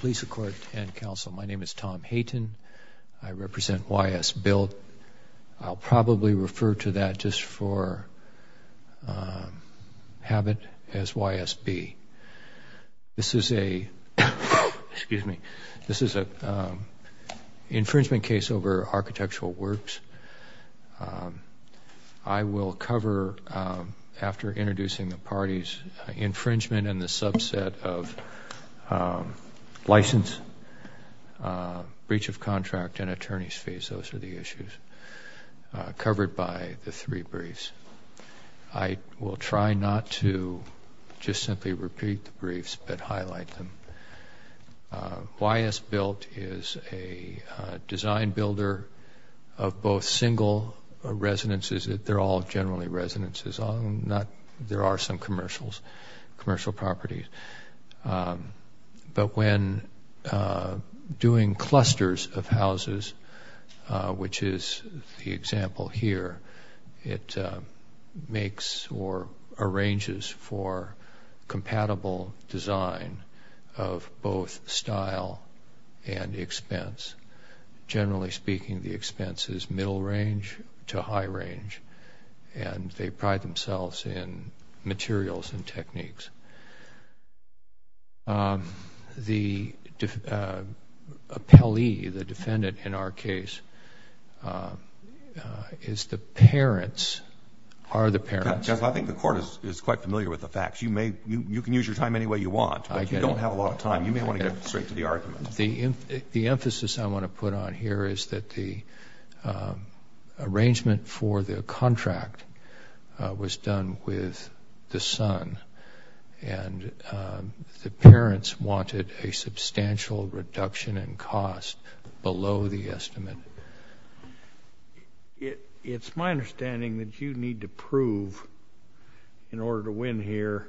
Please support and counsel. My name is Tom Hayton. I represent YS Built. I'll probably refer to that just for habit as YSB. This is a infringement case over architectural works. I will cover, after introducing the parties, infringement and the subset of license, breach of contract and attorney's fees. Those are the issues covered by the three briefs. I will try not to just simply repeat the briefs but highlight them. YS Built is a design builder of both single residences. They're all generally residences. There are some commercial properties. But when doing clusters of houses, which is the example here, it makes or arranges for compatible design of both style and expense. Generally speaking, the expense is middle range to high range. And they pride themselves in materials and techniques. The appellee, the defendant in our case, is the parents, are the parents. Judge, I think the court is quite familiar with the facts. You can use your time any way you want, but you don't have a lot of time. You may want to get straight to the argument. The emphasis I want to put on here is that the arrangement for the contract was done with the son. And the parents wanted a substantial reduction in cost below the estimate. It's my understanding that you need to prove, in order to win here,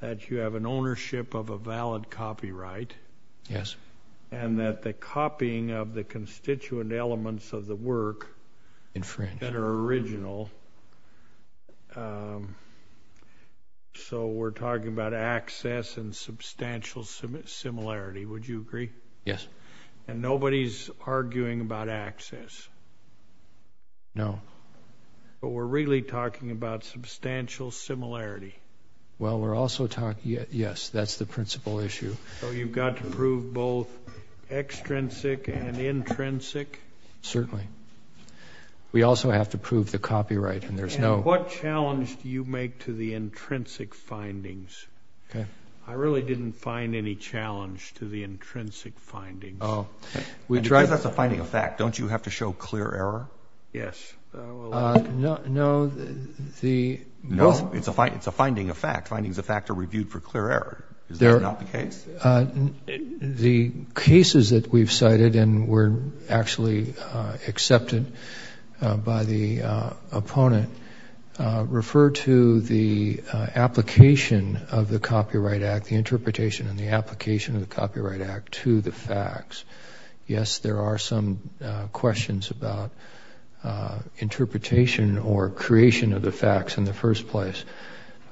that you have an ownership of a valid copyright. Yes. And that the copying of the constituent elements of the work that are original, so we're talking about access and substantial similarity, would you agree? Yes. And nobody's arguing about access. No. But we're really talking about substantial similarity. Well, we're also talking, yes, that's the principal issue. So you've got to prove both extrinsic and intrinsic? Certainly. We also have to prove the copyright, and there's no— And what challenge do you make to the intrinsic findings? Okay. I really didn't find any challenge to the intrinsic findings. Oh. That's a finding of fact. Don't you have to show clear error? Yes. No, the— No, it's a finding of fact. Findings of fact are reviewed for clear error. Is that not the case? The cases that we've cited and were actually accepted by the opponent refer to the application of the Copyright Act, the interpretation and the application of the Copyright Act to the facts. Yes, there are some questions about interpretation or creation of the facts in the first place.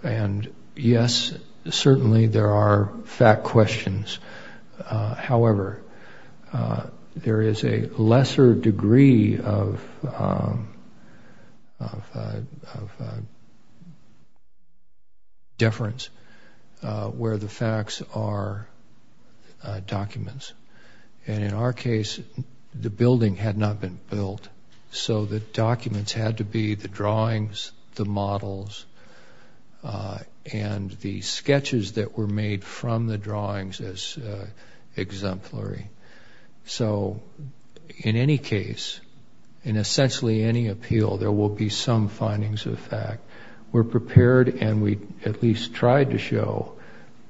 And, yes, certainly there are fact questions. However, there is a lesser degree of deference where the facts are documents. And in our case, the building had not been built, so the documents had to be the drawings, the models, and the sketches that were made from the drawings as exemplary. So in any case, in essentially any appeal, there will be some findings of fact. We're prepared, and we at least tried to show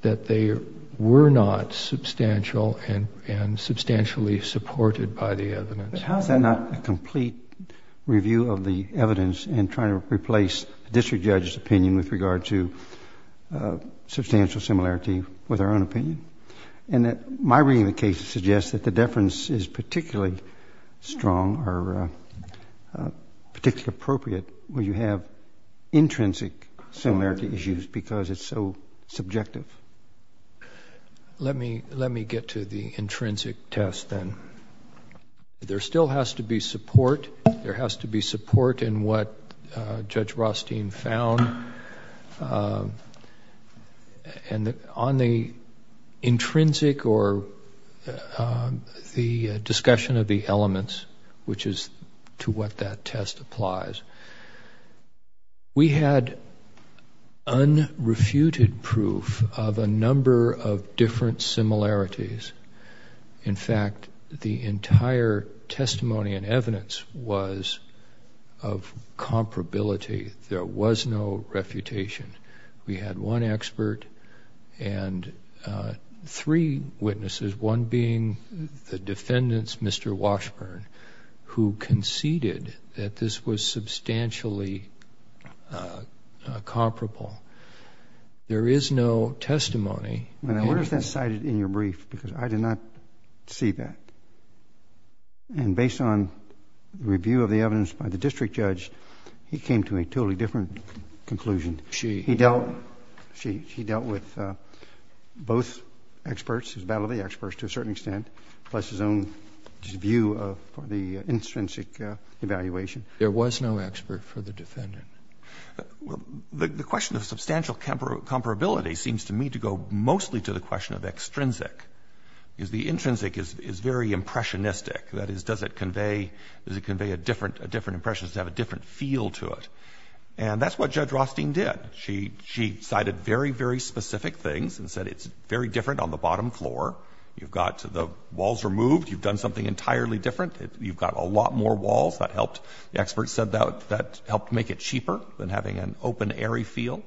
that they were not substantial and substantially supported by the evidence. But how is that not a complete review of the evidence and trying to replace the district judge's opinion with regard to substantial similarity with our own opinion? And my reading of the case suggests that the deference is particularly strong or particularly appropriate when you have intrinsic similarity issues because it's so subjective. Let me get to the intrinsic test then. There still has to be support. There has to be support in what Judge Rothstein found. And on the intrinsic or the discussion of the elements, which is to what that test applies, we had unrefuted proof of a number of different similarities. In fact, the entire testimony and evidence was of comparability. There was no refutation. We had one expert and three witnesses, one being the defendants, Mr. Washburn, who conceded that this was substantially comparable. There is no testimony. Now, where is that cited in your brief? Because I did not see that. And based on review of the evidence by the district judge, he came to a totally different conclusion. He dealt with both experts, his battle of the experts to a certain extent, plus his own view of the intrinsic evaluation. There was no expert for the defendant. The question of substantial comparability seems to me to go mostly to the question of extrinsic, because the intrinsic is very impressionistic. That is, does it convey a different impression, does it have a different feel to it? And that's what Judge Rothstein did. She cited very, very specific things and said it's very different on the bottom floor. You've got the walls removed. You've done something entirely different. You've got a lot more walls. The experts said that helped make it cheaper than having an open, airy feel.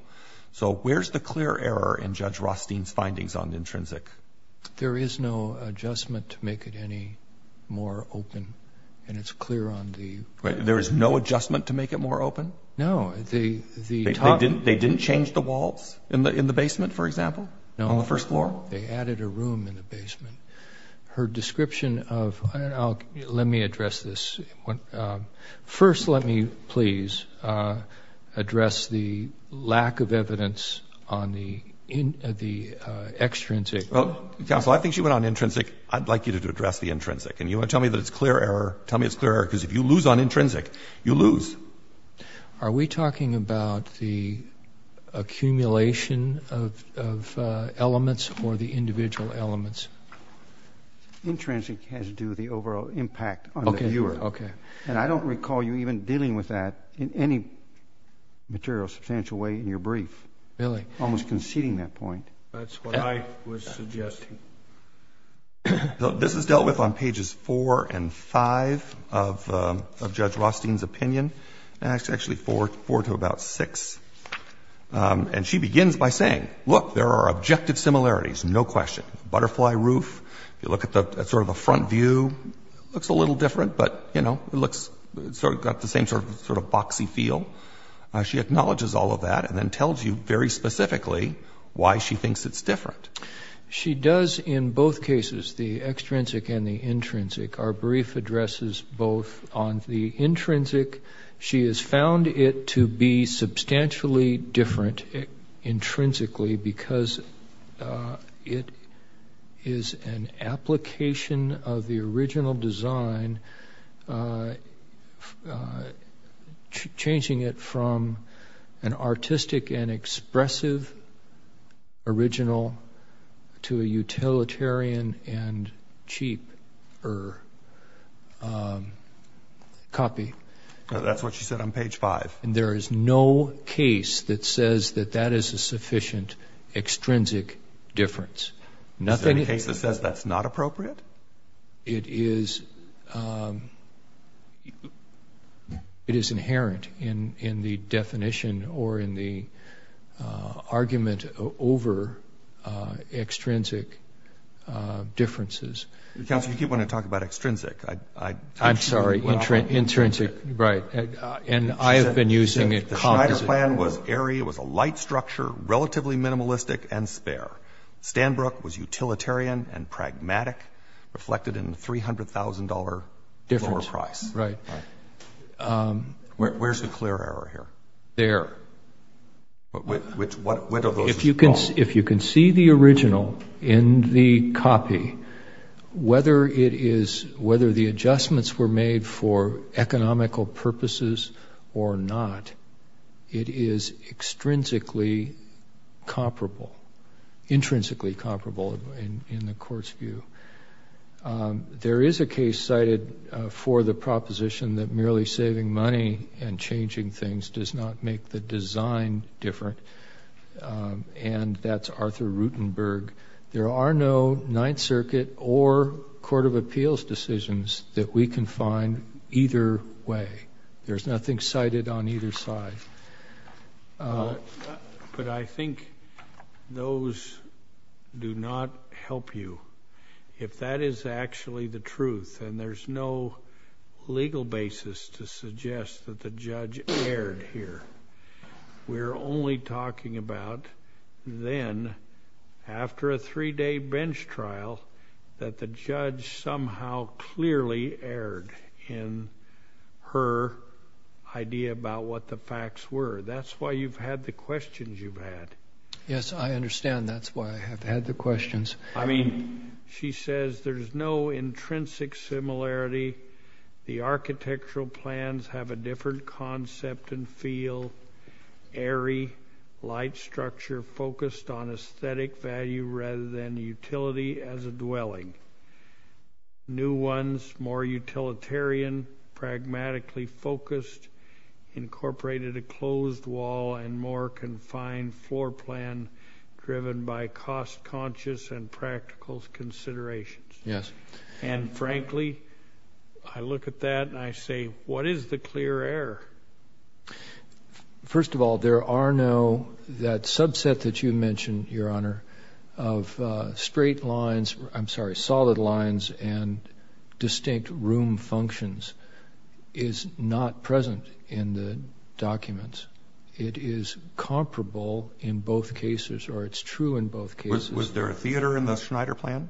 So where's the clear error in Judge Rothstein's findings on the intrinsic? There is no adjustment to make it any more open, and it's clear on the- There is no adjustment to make it more open? No. They didn't change the walls in the basement, for example, on the first floor? No. They added a room in the basement. Her description of-let me address this. First, let me please address the lack of evidence on the extrinsic. Counsel, I think she went on intrinsic. I'd like you to address the intrinsic, and you want to tell me that it's clear error? Tell me it's clear error, because if you lose on intrinsic, you lose. Are we talking about the accumulation of elements or the individual elements? Intrinsic has to do with the overall impact on the viewer. Okay. And I don't recall you even dealing with that in any material, substantial way in your brief. Really? Almost conceding that point. That's what I was suggesting. This is dealt with on pages 4 and 5 of Judge Rothstein's opinion. Actually, 4 to about 6. And she begins by saying, look, there are objective similarities, no question. Butterfly roof, you look at the sort of the front view, looks a little different, but, you know, it looks sort of got the same sort of boxy feel. She acknowledges all of that and then tells you very specifically why she thinks it's different. She does in both cases, the extrinsic and the intrinsic. Our brief addresses both. On the intrinsic, she has found it to be substantially different intrinsically because it is an application of the original design, changing it from an artistic and expressive original to a utilitarian and cheaper copy. That's what she said on page 5. And there is no case that says that that is a sufficient extrinsic difference. Is there any case that says that's not appropriate? It is inherent in the definition or in the argument over extrinsic differences. Counselor, you keep wanting to talk about extrinsic. I'm sorry, intrinsic, right. And I have been using it. The Schneider plan was airy, it was a light structure, relatively minimalistic and spare. Stanbrook was utilitarian and pragmatic, reflected in the $300,000 lower price. Difference, right. Where's the clear error here? If you can see the original in the copy, whether the adjustments were made for economical purposes or not, it is intrinsically comparable in the court's view. There is a case cited for the proposition that merely saving money and changing things does not make the design different, and that's Arthur Rutenberg. There are no Ninth Circuit or Court of Appeals decisions that we can find either way. There's nothing cited on either side. But I think those do not help you. If that is actually the truth, and there's no legal basis to suggest that the judge erred here, we're only talking about then, after a three-day bench trial, that the judge somehow clearly erred in her idea about what the facts were. That's why you've had the questions you've had. Yes, I understand that's why I have had the questions. I mean— She says there's no intrinsic similarity. The architectural plans have a different concept and feel, airy, light structure focused on aesthetic value rather than utility as a dwelling. New ones, more utilitarian, pragmatically focused, incorporated a closed wall and more confined floor plan driven by cost-conscious and practical considerations. Yes. And frankly, I look at that and I say, what is the clear error? First of all, there are no—that subset that you mentioned, Your Honor, of straight lines—I'm sorry, solid lines and distinct room functions is not present in the documents. It is comparable in both cases, or it's true in both cases. Was there a theater in the Schneider plan?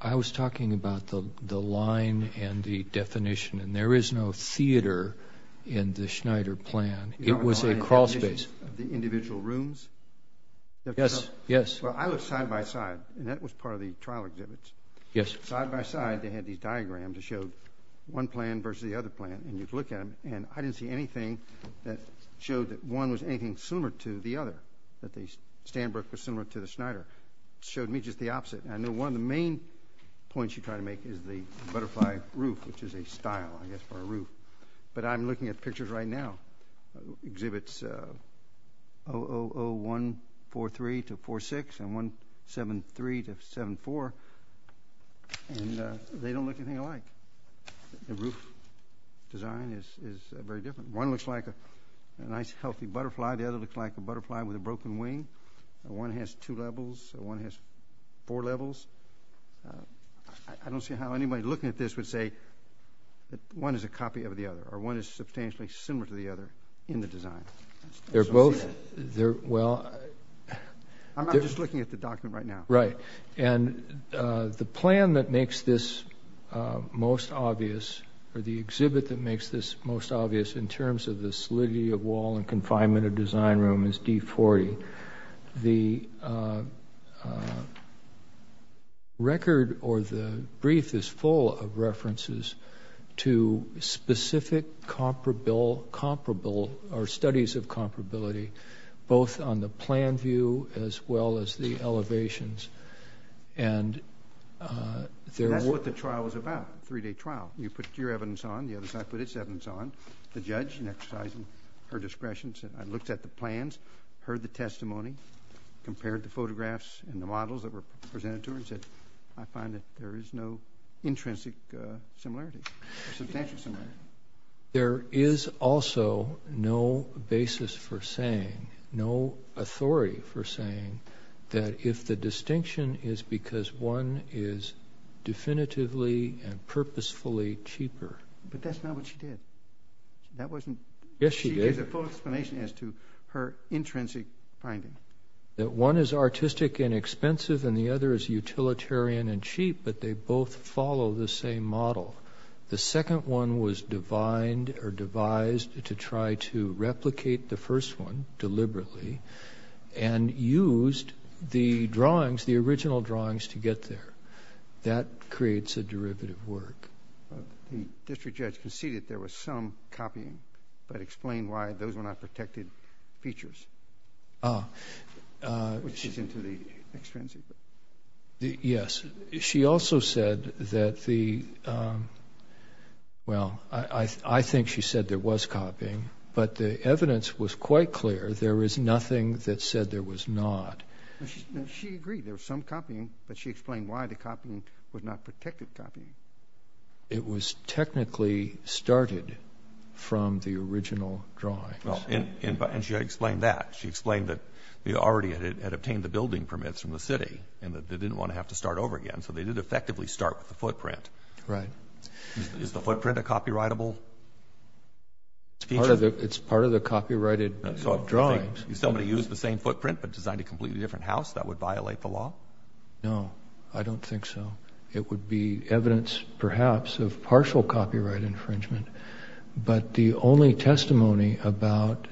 I was talking about the line and the definition, and there is no theater in the Schneider plan. It was a crawl space. The individual rooms? Yes, yes. Well, I looked side by side, and that was part of the trial exhibits. Yes. Side by side, they had these diagrams that showed one plan versus the other plan, and you'd look at them, and I didn't see anything that showed that one was anything similar to the other, that the Stanbrook was similar to the Schneider. It showed me just the opposite. I know one of the main points you try to make is the butterfly roof, which is a style, I guess, for a roof, but I'm looking at pictures right now, exhibits 000143-46 and 173-74, and they don't look anything alike. The roof design is very different. One looks like a nice, healthy butterfly. The other looks like a butterfly with a broken wing. One has two levels. One has four levels. I don't see how anybody looking at this would say that one is a copy of the other or one is substantially similar to the other in the design. They're both, well... I'm not just looking at the document right now. Right, and the plan that makes this most obvious or the exhibit that makes this most obvious in terms of the solidity of wall and confinement of design room is D-40. The record or the brief is full of references to specific studies of comparability, both on the plan view as well as the elevations. That's what the trial is about, a three-day trial. You put your evidence on, the other side put its evidence on, the judge in exercising her discretion said, I looked at the plans, heard the testimony, compared the photographs and the models that were presented to her and said, I find that there is no intrinsic similarity, substantial similarity. There is also no basis for saying, no authority for saying that if the distinction is because one is definitively and purposefully cheaper. But that's not what she did. That wasn't... Yes, she did. She gave the full explanation as to her intrinsic finding. That one is artistic and expensive and the other is utilitarian and cheap, but they both follow the same model. The second one was devised to try to replicate the first one deliberately and used the drawings, the original drawings, to get there. That creates a derivative work. The district judge conceded there was some copying, but explained why those were not protected features, which is into the extrinsic. Yes. She also said that the, well, I think she said there was copying, but the evidence was quite clear. There is nothing that said there was not. She agreed there was some copying, but she explained why the copying was not protected copying. It was technically started from the original drawings. And she explained that. She explained that they already had obtained the building permits from the city and that they didn't want to have to start over again, so they did effectively start with the footprint. Right. Is the footprint a copyrightable feature? It's part of the copyrighted drawings. So if somebody used the same footprint but designed a completely different house, that would violate the law? No, I don't think so. It would be evidence, perhaps, of partial copyright infringement. But the only testimony about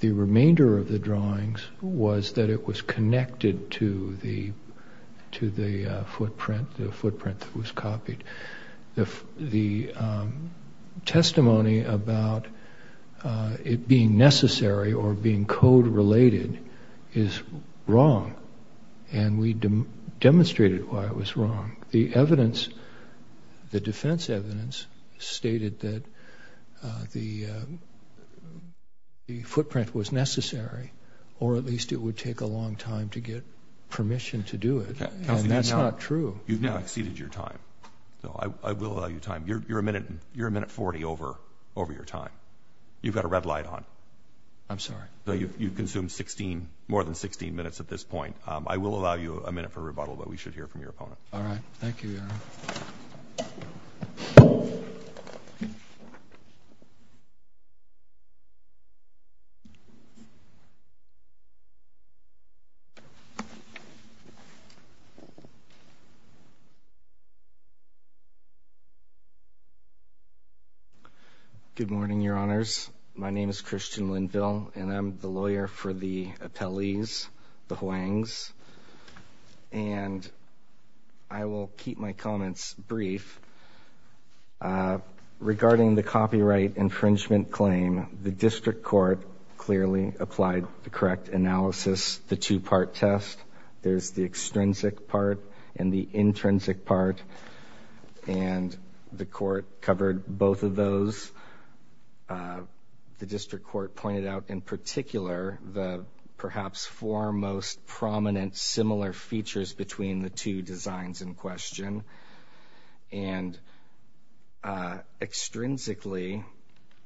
the remainder of the drawings was that it was connected to the footprint that was copied. The testimony about it being necessary or being code-related is wrong. And we demonstrated why it was wrong. The evidence, the defense evidence, stated that the footprint was necessary or at least it would take a long time to get permission to do it. And that's not true. You've now exceeded your time. I will allow you time. You're a minute 40 over your time. You've got a red light on. I'm sorry. You've consumed more than 16 minutes at this point. I will allow you a minute for rebuttal, but we should hear from your opponent. All right. Thank you, Your Honor. Good morning, Your Honors. My name is Christian Linville, and I'm the lawyer for the appellees, the Huangs. And I will keep my comments brief. Regarding the copyright infringement claim, the district court clearly applied the correct analysis, the two-part test. There's the extrinsic part and the intrinsic part, and the court covered both of those. The district court pointed out in particular the perhaps foremost prominent similar features between the two designs in question and extrinsically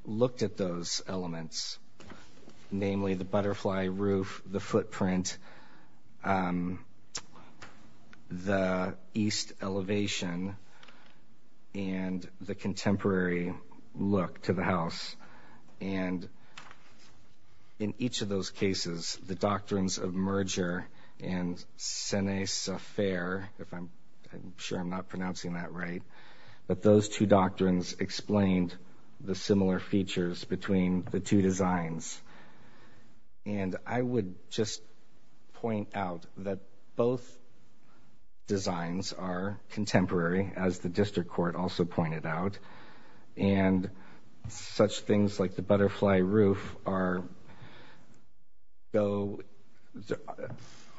looked at those elements, namely the butterfly roof, the footprint, the east elevation, and the contemporary look to the house. And in each of those cases, the doctrines of merger and senes affair, I'm sure I'm not pronouncing that right, but those two doctrines explained the similar features between the two designs. And I would just point out that both designs are contemporary, as the district court also pointed out, and such things like the butterfly roof are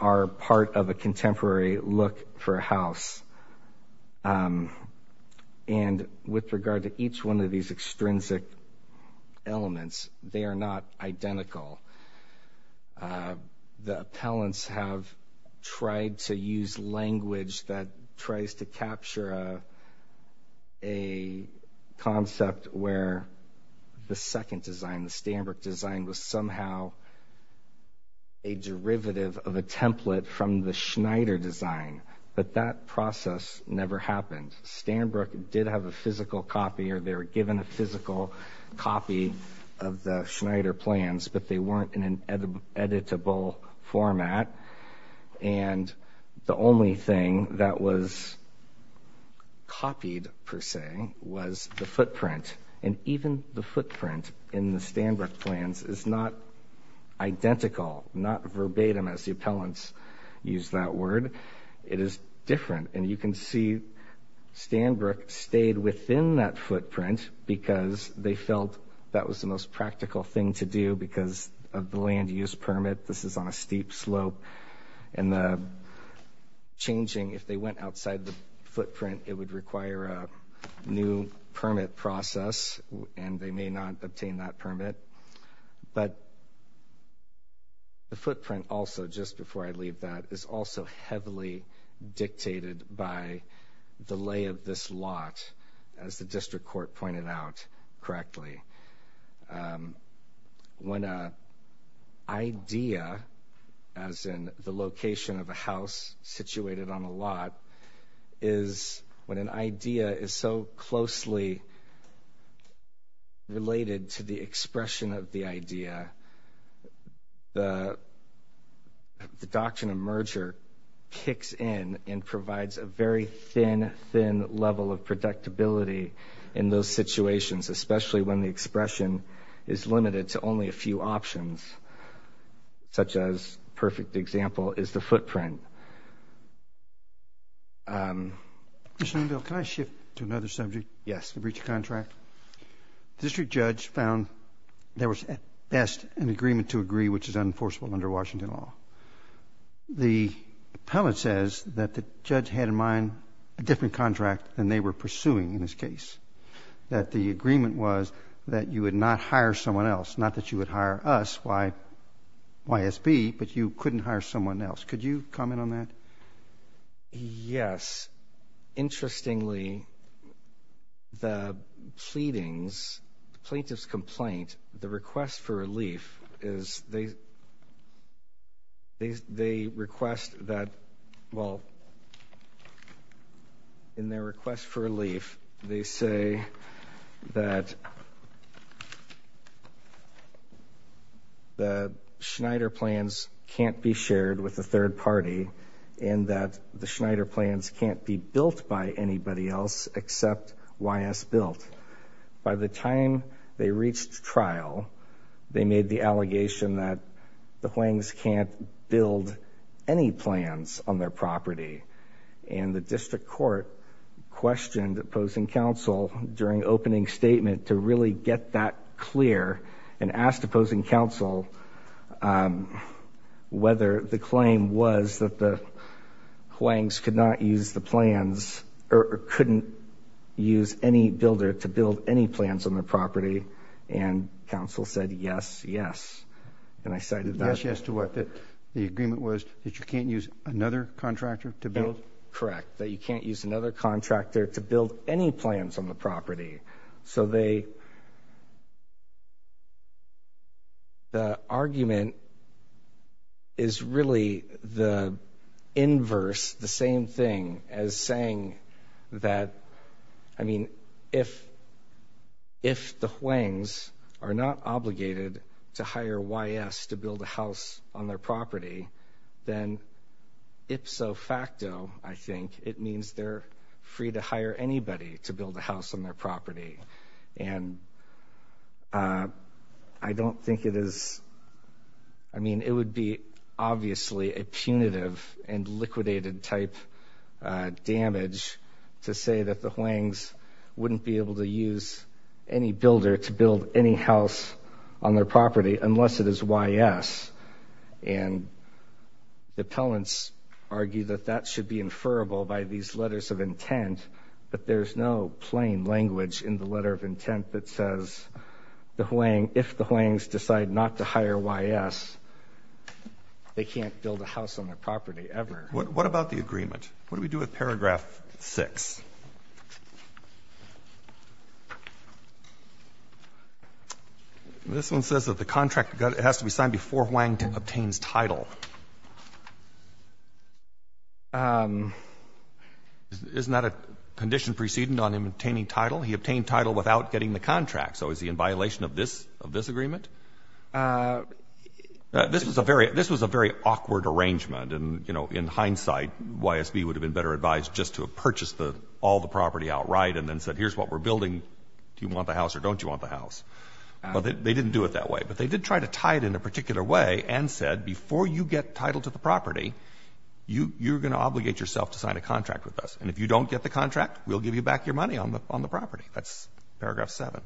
part of a contemporary look for a house. And with regard to each one of these extrinsic elements, they are not identical. The appellants have tried to use language that tries to capture a concept where the second design, the Stanbrook design, was somehow a derivative of a template from the Schneider design. But that process never happened. Stanbrook did have a physical copy, or they were given a physical copy of the Schneider plans, but they weren't in an editable format. And the only thing that was copied, per se, was the footprint. And even the footprint in the Stanbrook plans is not identical, not verbatim as the appellants used that word. It is different. And you can see Stanbrook stayed within that footprint because they felt that was the most practical thing to do because of the land use permit. This is on a steep slope. And the changing, if they went outside the footprint, it would require a new permit process, and they may not obtain that permit. But the footprint also, just before I leave that, is also heavily dictated by the lay of this lot, as the district court pointed out correctly. When an idea, as in the location of a house situated on a lot, is when an idea is so closely related to the expression of the idea, the doctrine of merger kicks in and provides a very thin, thin level of predictability in those situations, especially when the expression is limited to only a few options, such as a perfect example is the footprint. Mr. Neunfeld, can I shift to another subject? Yes. The breach of contract. The district judge found there was, at best, an agreement to agree, which is unenforceable under Washington law. The appellant says that the judge had in mind a different contract than they were pursuing in this case, that the agreement was that you would not hire someone else, not that you would hire us, YSB, but you couldn't hire someone else. Could you comment on that? Yes. Interestingly, the plaintiff's complaint, the request for relief, is they request that, well, in their request for relief, they say that the Schneider plans can't be shared with the third party and that the Schneider plans can't be built by anybody else except YSB. By the time they reached trial, they made the allegation that the Huangs can't build any plans on their property, and the district court questioned opposing counsel during opening statement to really get that clear and asked opposing counsel whether the claim was that the Huangs could not use the plans or couldn't use any builder to build any plans on their property, and counsel said, yes, yes, and I cited that. Yes, yes to what? That the agreement was that you can't use another contractor to build? Correct, that you can't use another contractor to build any plans on the property. So the argument is really the inverse, the same thing, as saying that, I mean, if the Huangs are not obligated to hire YS to build a house on their property, then ipso facto, I think, it means they're free to hire anybody to build a house on their property, and I don't think it is, I mean, it would be obviously a punitive and liquidated type damage to say that the Huangs wouldn't be able to use any builder to build any house on their property unless it is YS, and the appellants argue that that should be inferable by these letters of intent, but there's no plain language in the letter of intent that says if the Huangs decide not to hire YS, they can't build a house on their property ever. What about the agreement? What do we do with paragraph 6? This one says that the contract has to be signed before Huang obtains title. Isn't that a condition preceding on him obtaining title? He obtained title without getting the contract, so is he in violation of this agreement? This was a very awkward arrangement, and in hindsight YSB would have been better advised just to have purchased all the property outright and then said here's what we're building. Do you want the house or don't you want the house? They didn't do it that way, but they did try to tie it in a particular way and said before you get title to the property, you're going to obligate yourself to sign a contract with us, and if you don't get the contract, we'll give you back your money on the property. That's paragraph 7.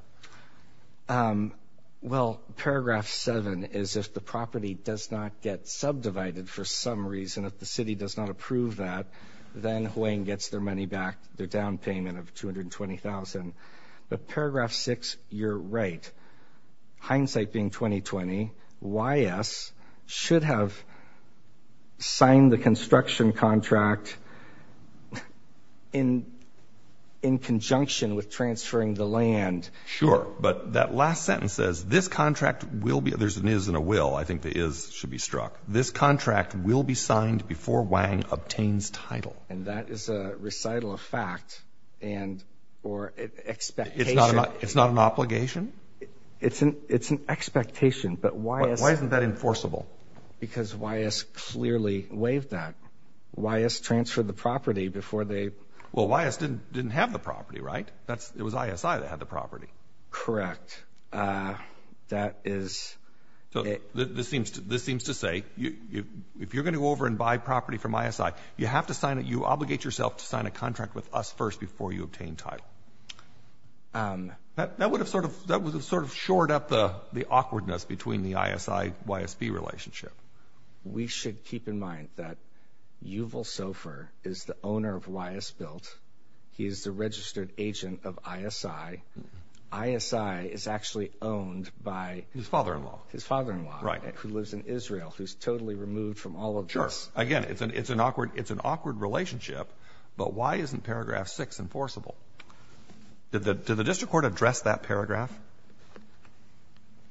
Well, paragraph 7 is if the property does not get subdivided for some reason, if the city does not approve that, then Huang gets their money back, their down payment of $220,000. But paragraph 6, you're right. Hindsight being 20-20, YS should have signed the construction contract in conjunction with transferring the land. Sure, but that last sentence says this contract will be, there's an is and a will. I think the is should be struck. This contract will be signed before Huang obtains title. And that is a recital of fact and or expectation. It's not an obligation? It's an expectation, but YS... Why isn't that enforceable? Because YS clearly waived that. YS transferred the property before they... Well, YS didn't have the property, right? It was ISI that had the property. Correct. That is... This seems to say, if you're going to go over and buy property from ISI, you have to sign it, you obligate yourself to sign a contract with us first before you obtain title. That would have sort of shored up the awkwardness between the ISI-YSB relationship. We should keep in mind that Yuval Sofer is the owner of YSBilt. He is the registered agent of ISI. ISI is actually owned by... His father-in-law. His father-in-law. Right. Who lives in Israel, who's totally removed from all of this. Sure. Again, it's an awkward relationship, but why isn't paragraph six enforceable? Did the district court address that paragraph?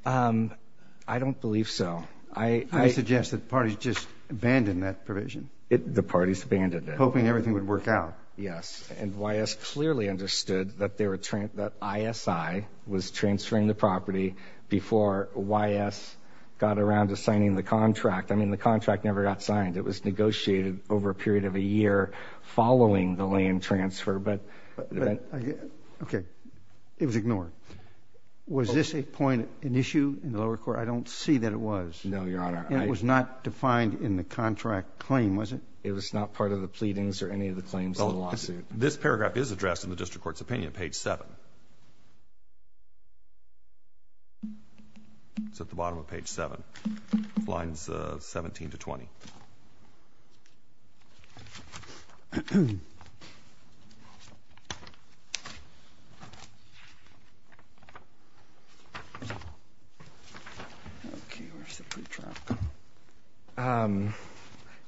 I don't believe so. I suggest that the parties just abandoned that provision. The parties abandoned it. Hoping everything would work out. Yes. And YS clearly understood that ISI was transferring the property before YS got around to signing the contract. I mean, the contract never got signed. It was negotiated over a period of a year following the land transfer, but... Okay. It was ignored. Was this a point, an issue in the lower court? I don't see that it was. No, Your Honor. And it was not defined in the contract claim, was it? It was not part of the pleadings or any of the claims in the lawsuit. This paragraph is addressed in the district court's opinion at page seven. It's at the bottom of page seven. Lines 17 to 20.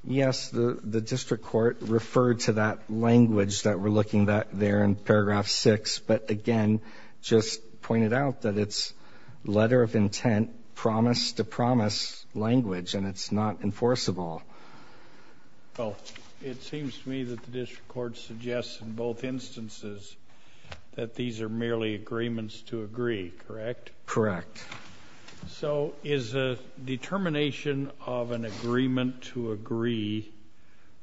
Yes, the district court referred to that language that we're looking at there in paragraph six, but, again, just pointed out that it's letter of intent, promise to promise language, and it's not enforceable. Well, it seems to me that the district court suggests in both instances that these are merely agreements to agree, correct? Correct. So is a determination of an agreement to agree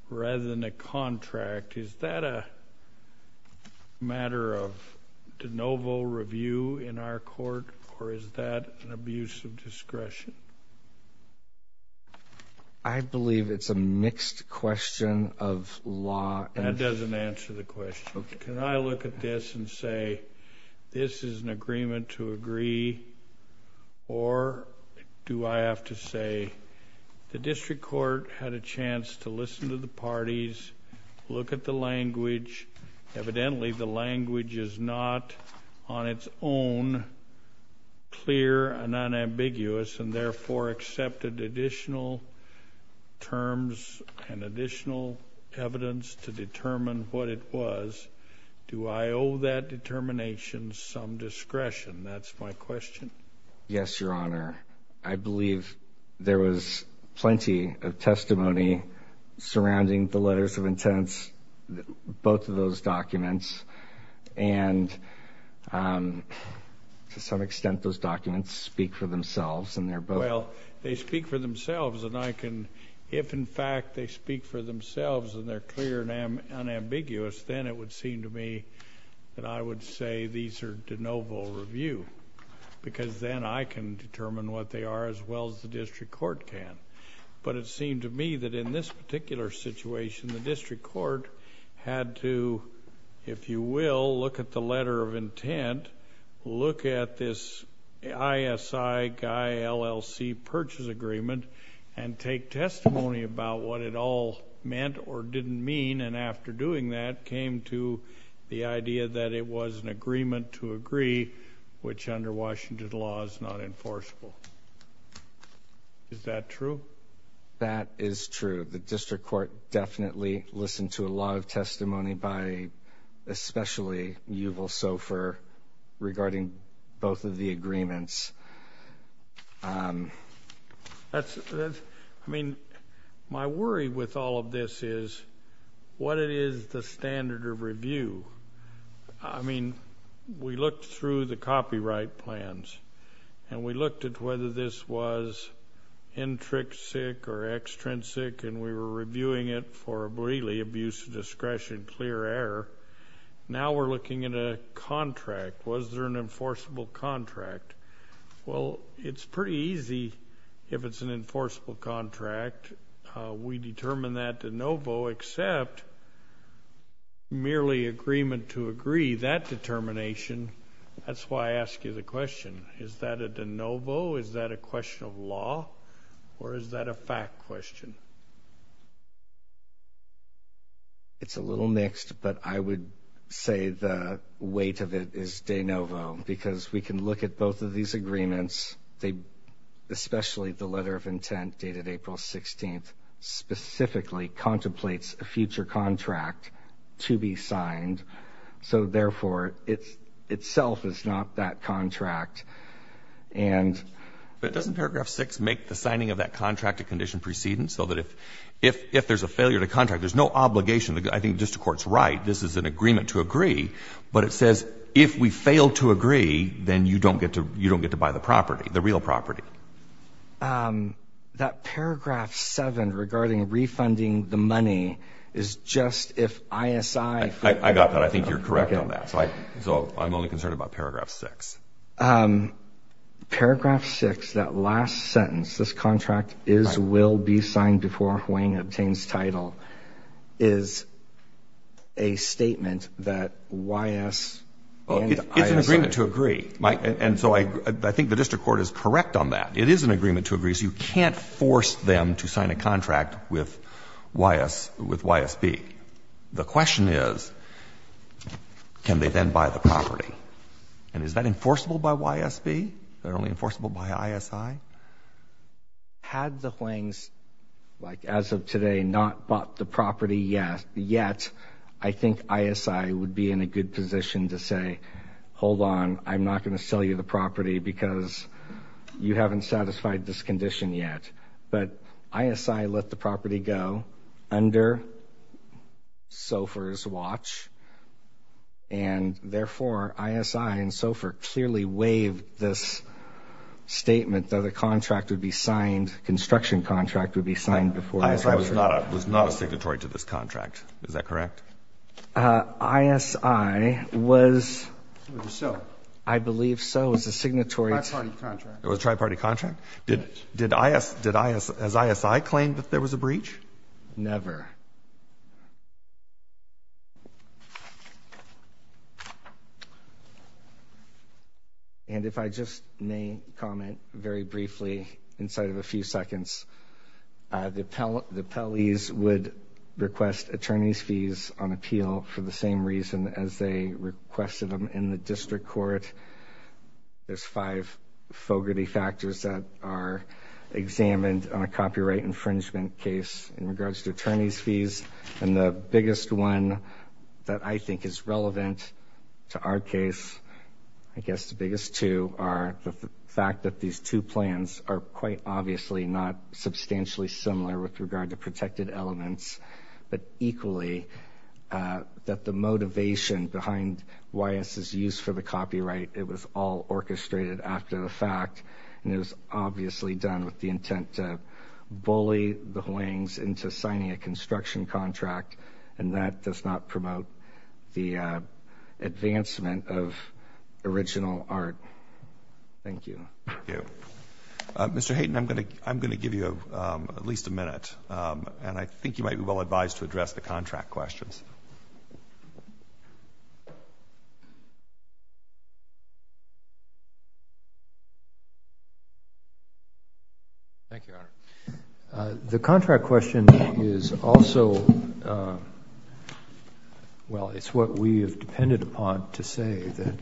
rather than a contract, is that a matter of de novo review in our court, or is that an abuse of discretion? I believe it's a mixed question of law. That doesn't answer the question. Can I look at this and say this is an agreement to agree, or do I have to say the district court had a chance to listen to the parties, look at the language. Evidently the language is not on its own clear and unambiguous and therefore accepted additional terms and additional evidence to determine what it was. Do I owe that determination some discretion? That's my question. Yes, Your Honor. I believe there was plenty of testimony surrounding the letters of intent, both of those documents, and to some extent those documents speak for themselves and they're both. Well, they speak for themselves, and I can, if in fact they speak for themselves and they're clear and unambiguous, then it would seem to me that I would say these are de novo review because then I can determine what they are as well as the district court can. But it seemed to me that in this particular situation, the district court had to, if you will, look at the letter of intent, look at this ISI guy LLC purchase agreement and take testimony about what it all meant or didn't mean, and after doing that came to the idea that it was an agreement to agree, which under Washington law is not enforceable. Is that true? That is true. The district court definitely listened to a lot of testimony by especially Yuval Sofer regarding both of the agreements. I mean, my worry with all of this is what it is the standard of review. I mean, we looked through the copyright plans and we looked at whether this was intrinsic or extrinsic and we were reviewing it for really abuse of discretion, clear error. Now we're looking at a contract. Was there an enforceable contract? Well, it's pretty easy if it's an enforceable contract. We determine that de novo except merely agreement to agree that determination. That's why I ask you the question, is that a de novo, is that a question of law, or is that a fact question? It's a little mixed, but I would say the weight of it is de novo because we can look at both of these agreements, especially the letter of intent dated April 16th specifically contemplates a future contract to be signed, so therefore it itself is not that contract. But doesn't paragraph 6 make the signing of that contract a condition precedence so that if there's a failure to contract, there's no obligation. I think the district court's right. This is an agreement to agree, but it says if we fail to agree, then you don't get to buy the property, the real property. That paragraph 7 regarding refunding the money is just if ISI... I got that. I think you're correct on that. So I'm only concerned about paragraph 6. Paragraph 6, that last sentence, this contract is, will be signed before HUANG obtains title, is a statement that YS and ISI... It's an agreement to agree. And so I think the district court is correct on that. It is an agreement to agree, so you can't force them to sign a contract with YS, with YSB. The question is, can they then buy the property? And is that enforceable by YSB? Is that only enforceable by ISI? Had the HUANGs, like, as of today, not bought the property yet, I think ISI would be in a good position to say, hold on, I'm not going to sell you the property because you haven't satisfied this condition yet. But ISI let the property go under SOFR's watch, and therefore ISI and SOFR clearly waived this statement that a contract would be signed, construction contract would be signed before... ISI was not a signatory to this contract. Is that correct? ISI was... I believe so. It was a signatory... It was a tri-party contract. It was a tri-party contract? Did ISI claim that there was a breach? Never. And if I just may comment very briefly, inside of a few seconds, the appellees would request attorney's fees on appeal for the same reason as they requested them in the district court. There's five fogarty factors that are examined on a copyright infringement case in regards to attorney's fees. And the biggest one that I think is relevant to our case, I guess the biggest two are the fact that these two plans are quite obviously not substantially similar with regard to protected elements, but equally that the motivation behind YS's use for the copyright, it was all orchestrated after the fact, and it was obviously done with the intent to bully the Huangs into signing a construction contract, and that does not promote the advancement of original art. Thank you. Thank you. Mr. Hayden, I'm going to give you at least a minute, and I think you might be well advised to address the contract questions. Thank you. The contract question is also, well, it's what we have depended upon to say that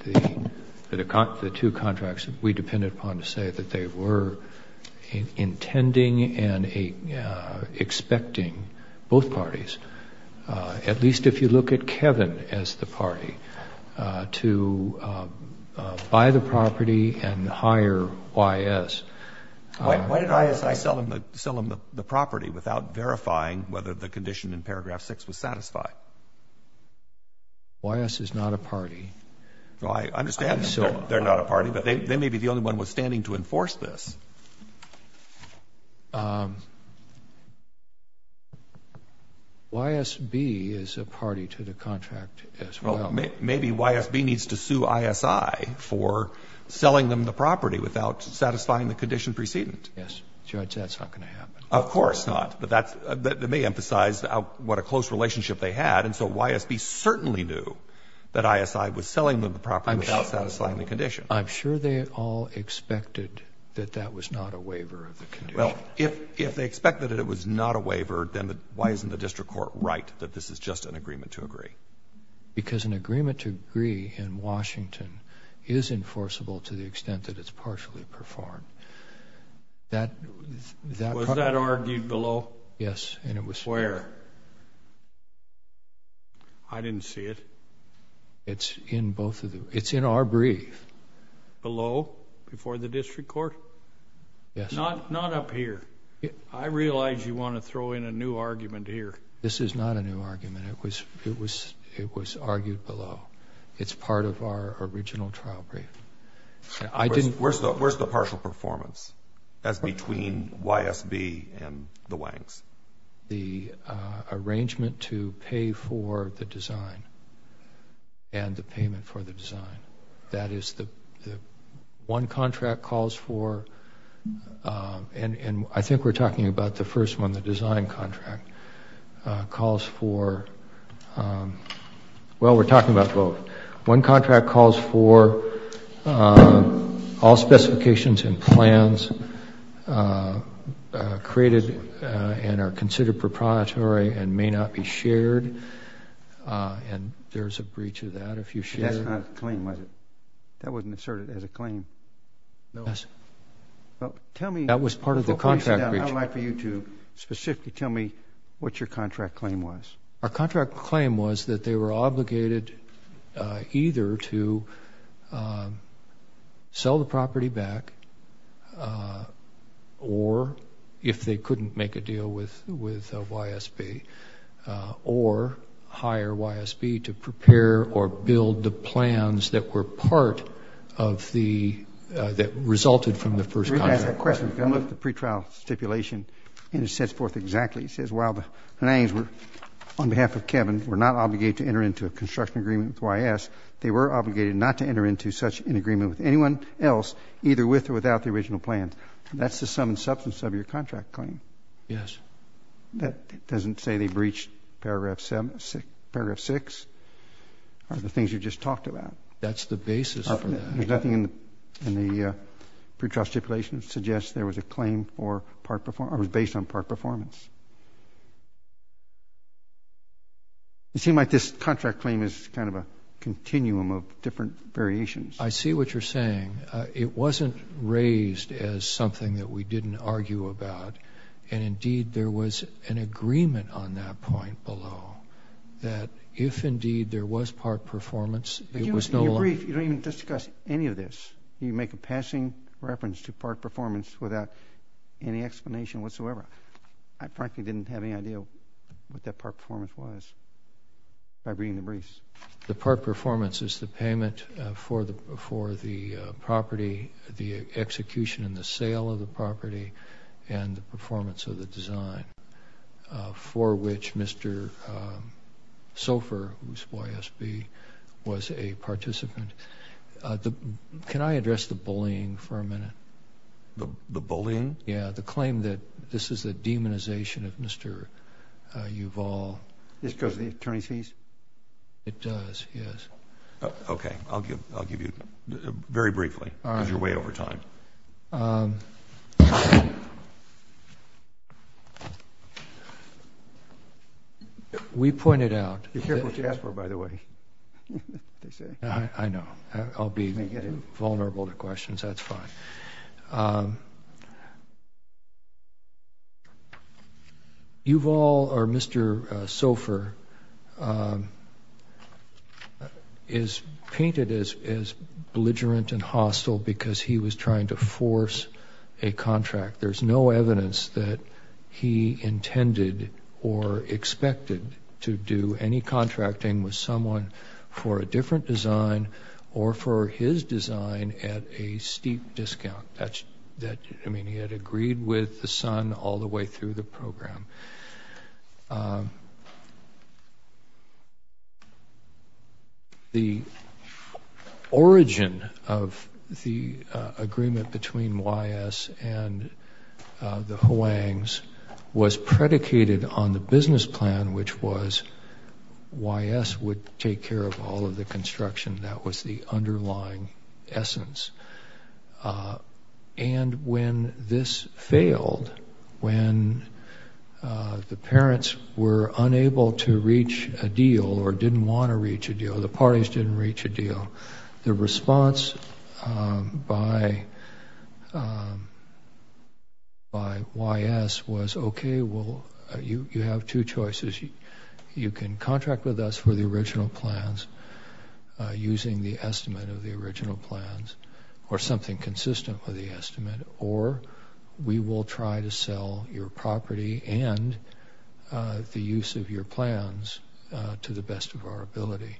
the two contracts we depended upon to say that they were intending and expecting both parties, at least if you look at Kevin as the party, to buy the property and hire YS. Why did I sell him the property without verifying whether the condition in paragraph 6 was satisfied? YS is not a party. Well, I understand they're not a party, but they may be the only one withstanding to enforce this. YSB is a party to the contract as well. Well, maybe YSB needs to sue ISI for selling them the property without satisfying the condition precedent. Yes. Judge, that's not going to happen. Of course not. But that may emphasize what a close relationship they had, and so YSB certainly knew that ISI was selling them the property without satisfying the condition. I'm sure they all expected that that was not a waiver of the condition. Well, if they expected it was not a waiver, then why isn't the district court right that this is just an agreement to agree? Because an agreement to agree in Washington is enforceable to the extent that it's partially performed. Was that argued below? Yes. Where? I didn't see it. It's in our brief. Below, before the district court? Yes. Not up here. I realize you want to throw in a new argument here. This is not a new argument. It was argued below. It's part of our original trial brief. Where's the partial performance? That's between YSB and the Wangs. The arrangement to pay for the design and the payment for the design, that is the one contract calls for, and I think we're talking about the first one, the design contract, calls for, well, we're talking about both. One contract calls for all specifications and plans created and are considered proprietary and may not be shared, and there's a breach of that if you share. That's not a claim, was it? That wasn't asserted as a claim. No. That was part of the contract breach. I would like for you to specifically tell me what your contract claim was. Our contract claim was that they were obligated either to sell the property back or, if they couldn't make a deal with YSB, or hire YSB to prepare or build the plans that were part of the, that resulted from the first contract. Let me ask that question. I looked at the pretrial stipulation, and it sets forth exactly. It says, while the Wangs, on behalf of Kevin, were not obligated to enter into a construction agreement with YS, they were obligated not to enter into such an agreement with anyone else, either with or without the original plans. That's the sum and substance of your contract claim. Yes. That doesn't say they breached Paragraph 6 or the things you just talked about. That's the basis for that. There's nothing in the pretrial stipulation that suggests there was a claim or was based on part performance. It seems like this contract claim is kind of a continuum of different variations. I see what you're saying. It wasn't raised as something that we didn't argue about, and, indeed, there was an agreement on that point below, that if, indeed, there was part performance, it was no longer. In your brief, you don't even discuss any of this. You make a passing reference to part performance without any explanation whatsoever. I frankly didn't have any idea what that part performance was by reading the briefs. The part performance is the payment for the property, the execution and the sale of the property, and the performance of the design for which Mr. Sofer, who's YSB, was a participant. Can I address the bullying for a minute? The bullying? Yeah, the claim that this is a demonization of Mr. Yuval. Just because of the attorney's fees? It does, yes. Okay. I'll give you very briefly. All right. Use your way over time. We pointed out— Be careful what you ask for, by the way, they say. I know. I'll be vulnerable to questions. That's fine. Yuval, or Mr. Sofer, is painted as belligerent and hostile because he was trying to force a contract. There's no evidence that he intended or expected to do any contracting with someone for a different design or for his design at a steep discount. I mean, he had agreed with the son all the way through the program. The origin of the agreement between YS and the Hoangs was predicated on the business plan, which was YS would take care of all of the construction. That was the underlying essence. And when this failed, when the parents were unable to reach a deal or didn't want to reach a deal, the parties didn't reach a deal, the response by YS was, okay, well, you have two choices. You can contract with us for the original plans using the estimate of the original plans or something consistent with the estimate, or we will try to sell your property and the use of your plans to the best of our ability.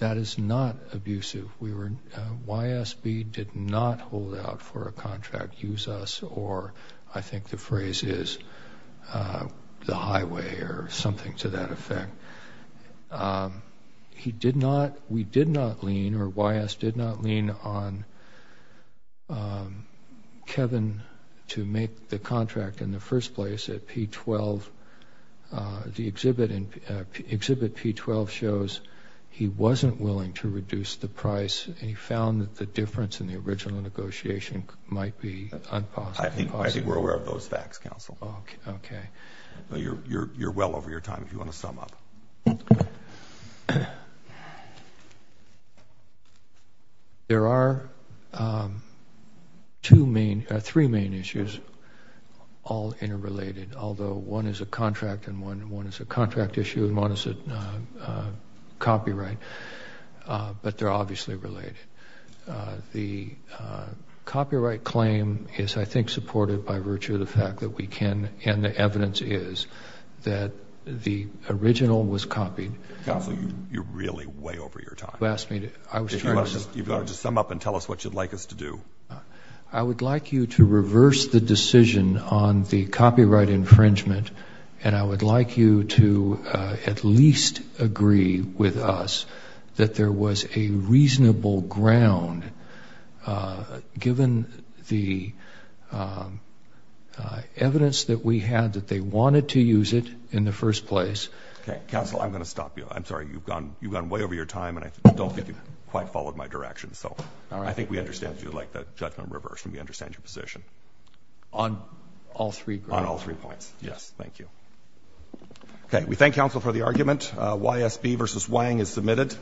That is not abusive. YSB did not hold out for a contract, use us, or I think the phrase is the highway or something to that effect. He did not, we did not lean or YS did not lean on Kevin to make the contract in the first place at P-12. The exhibit P-12 shows he wasn't willing to reduce the price and he found that the difference in the original negotiation might be impossible. I think we're aware of those facts, counsel. Okay. You're well over your time if you want to sum up. There are three main issues, all interrelated, although one is a contract and one is a contract issue and one is a copyright, but they're obviously related. The copyright claim is, I think, supported by virtue of the fact that we can and the evidence is that the original was copied. Counsel, you're really way over your time. You've got to just sum up and tell us what you'd like us to do. I would like you to reverse the decision on the copyright infringement and I would like you to at least agree with us that there was a reasonable ground given the evidence that we had that they wanted to use it in the first place. Counsel, I'm going to stop you. I'm sorry. You've gone way over your time and I don't think you quite followed my direction. I think we understand you'd like the judgment reversed and we understand your position. On all three grounds? Yes. Thank you. Okay. We thank counsel for the argument. YSB versus Wang is submitted.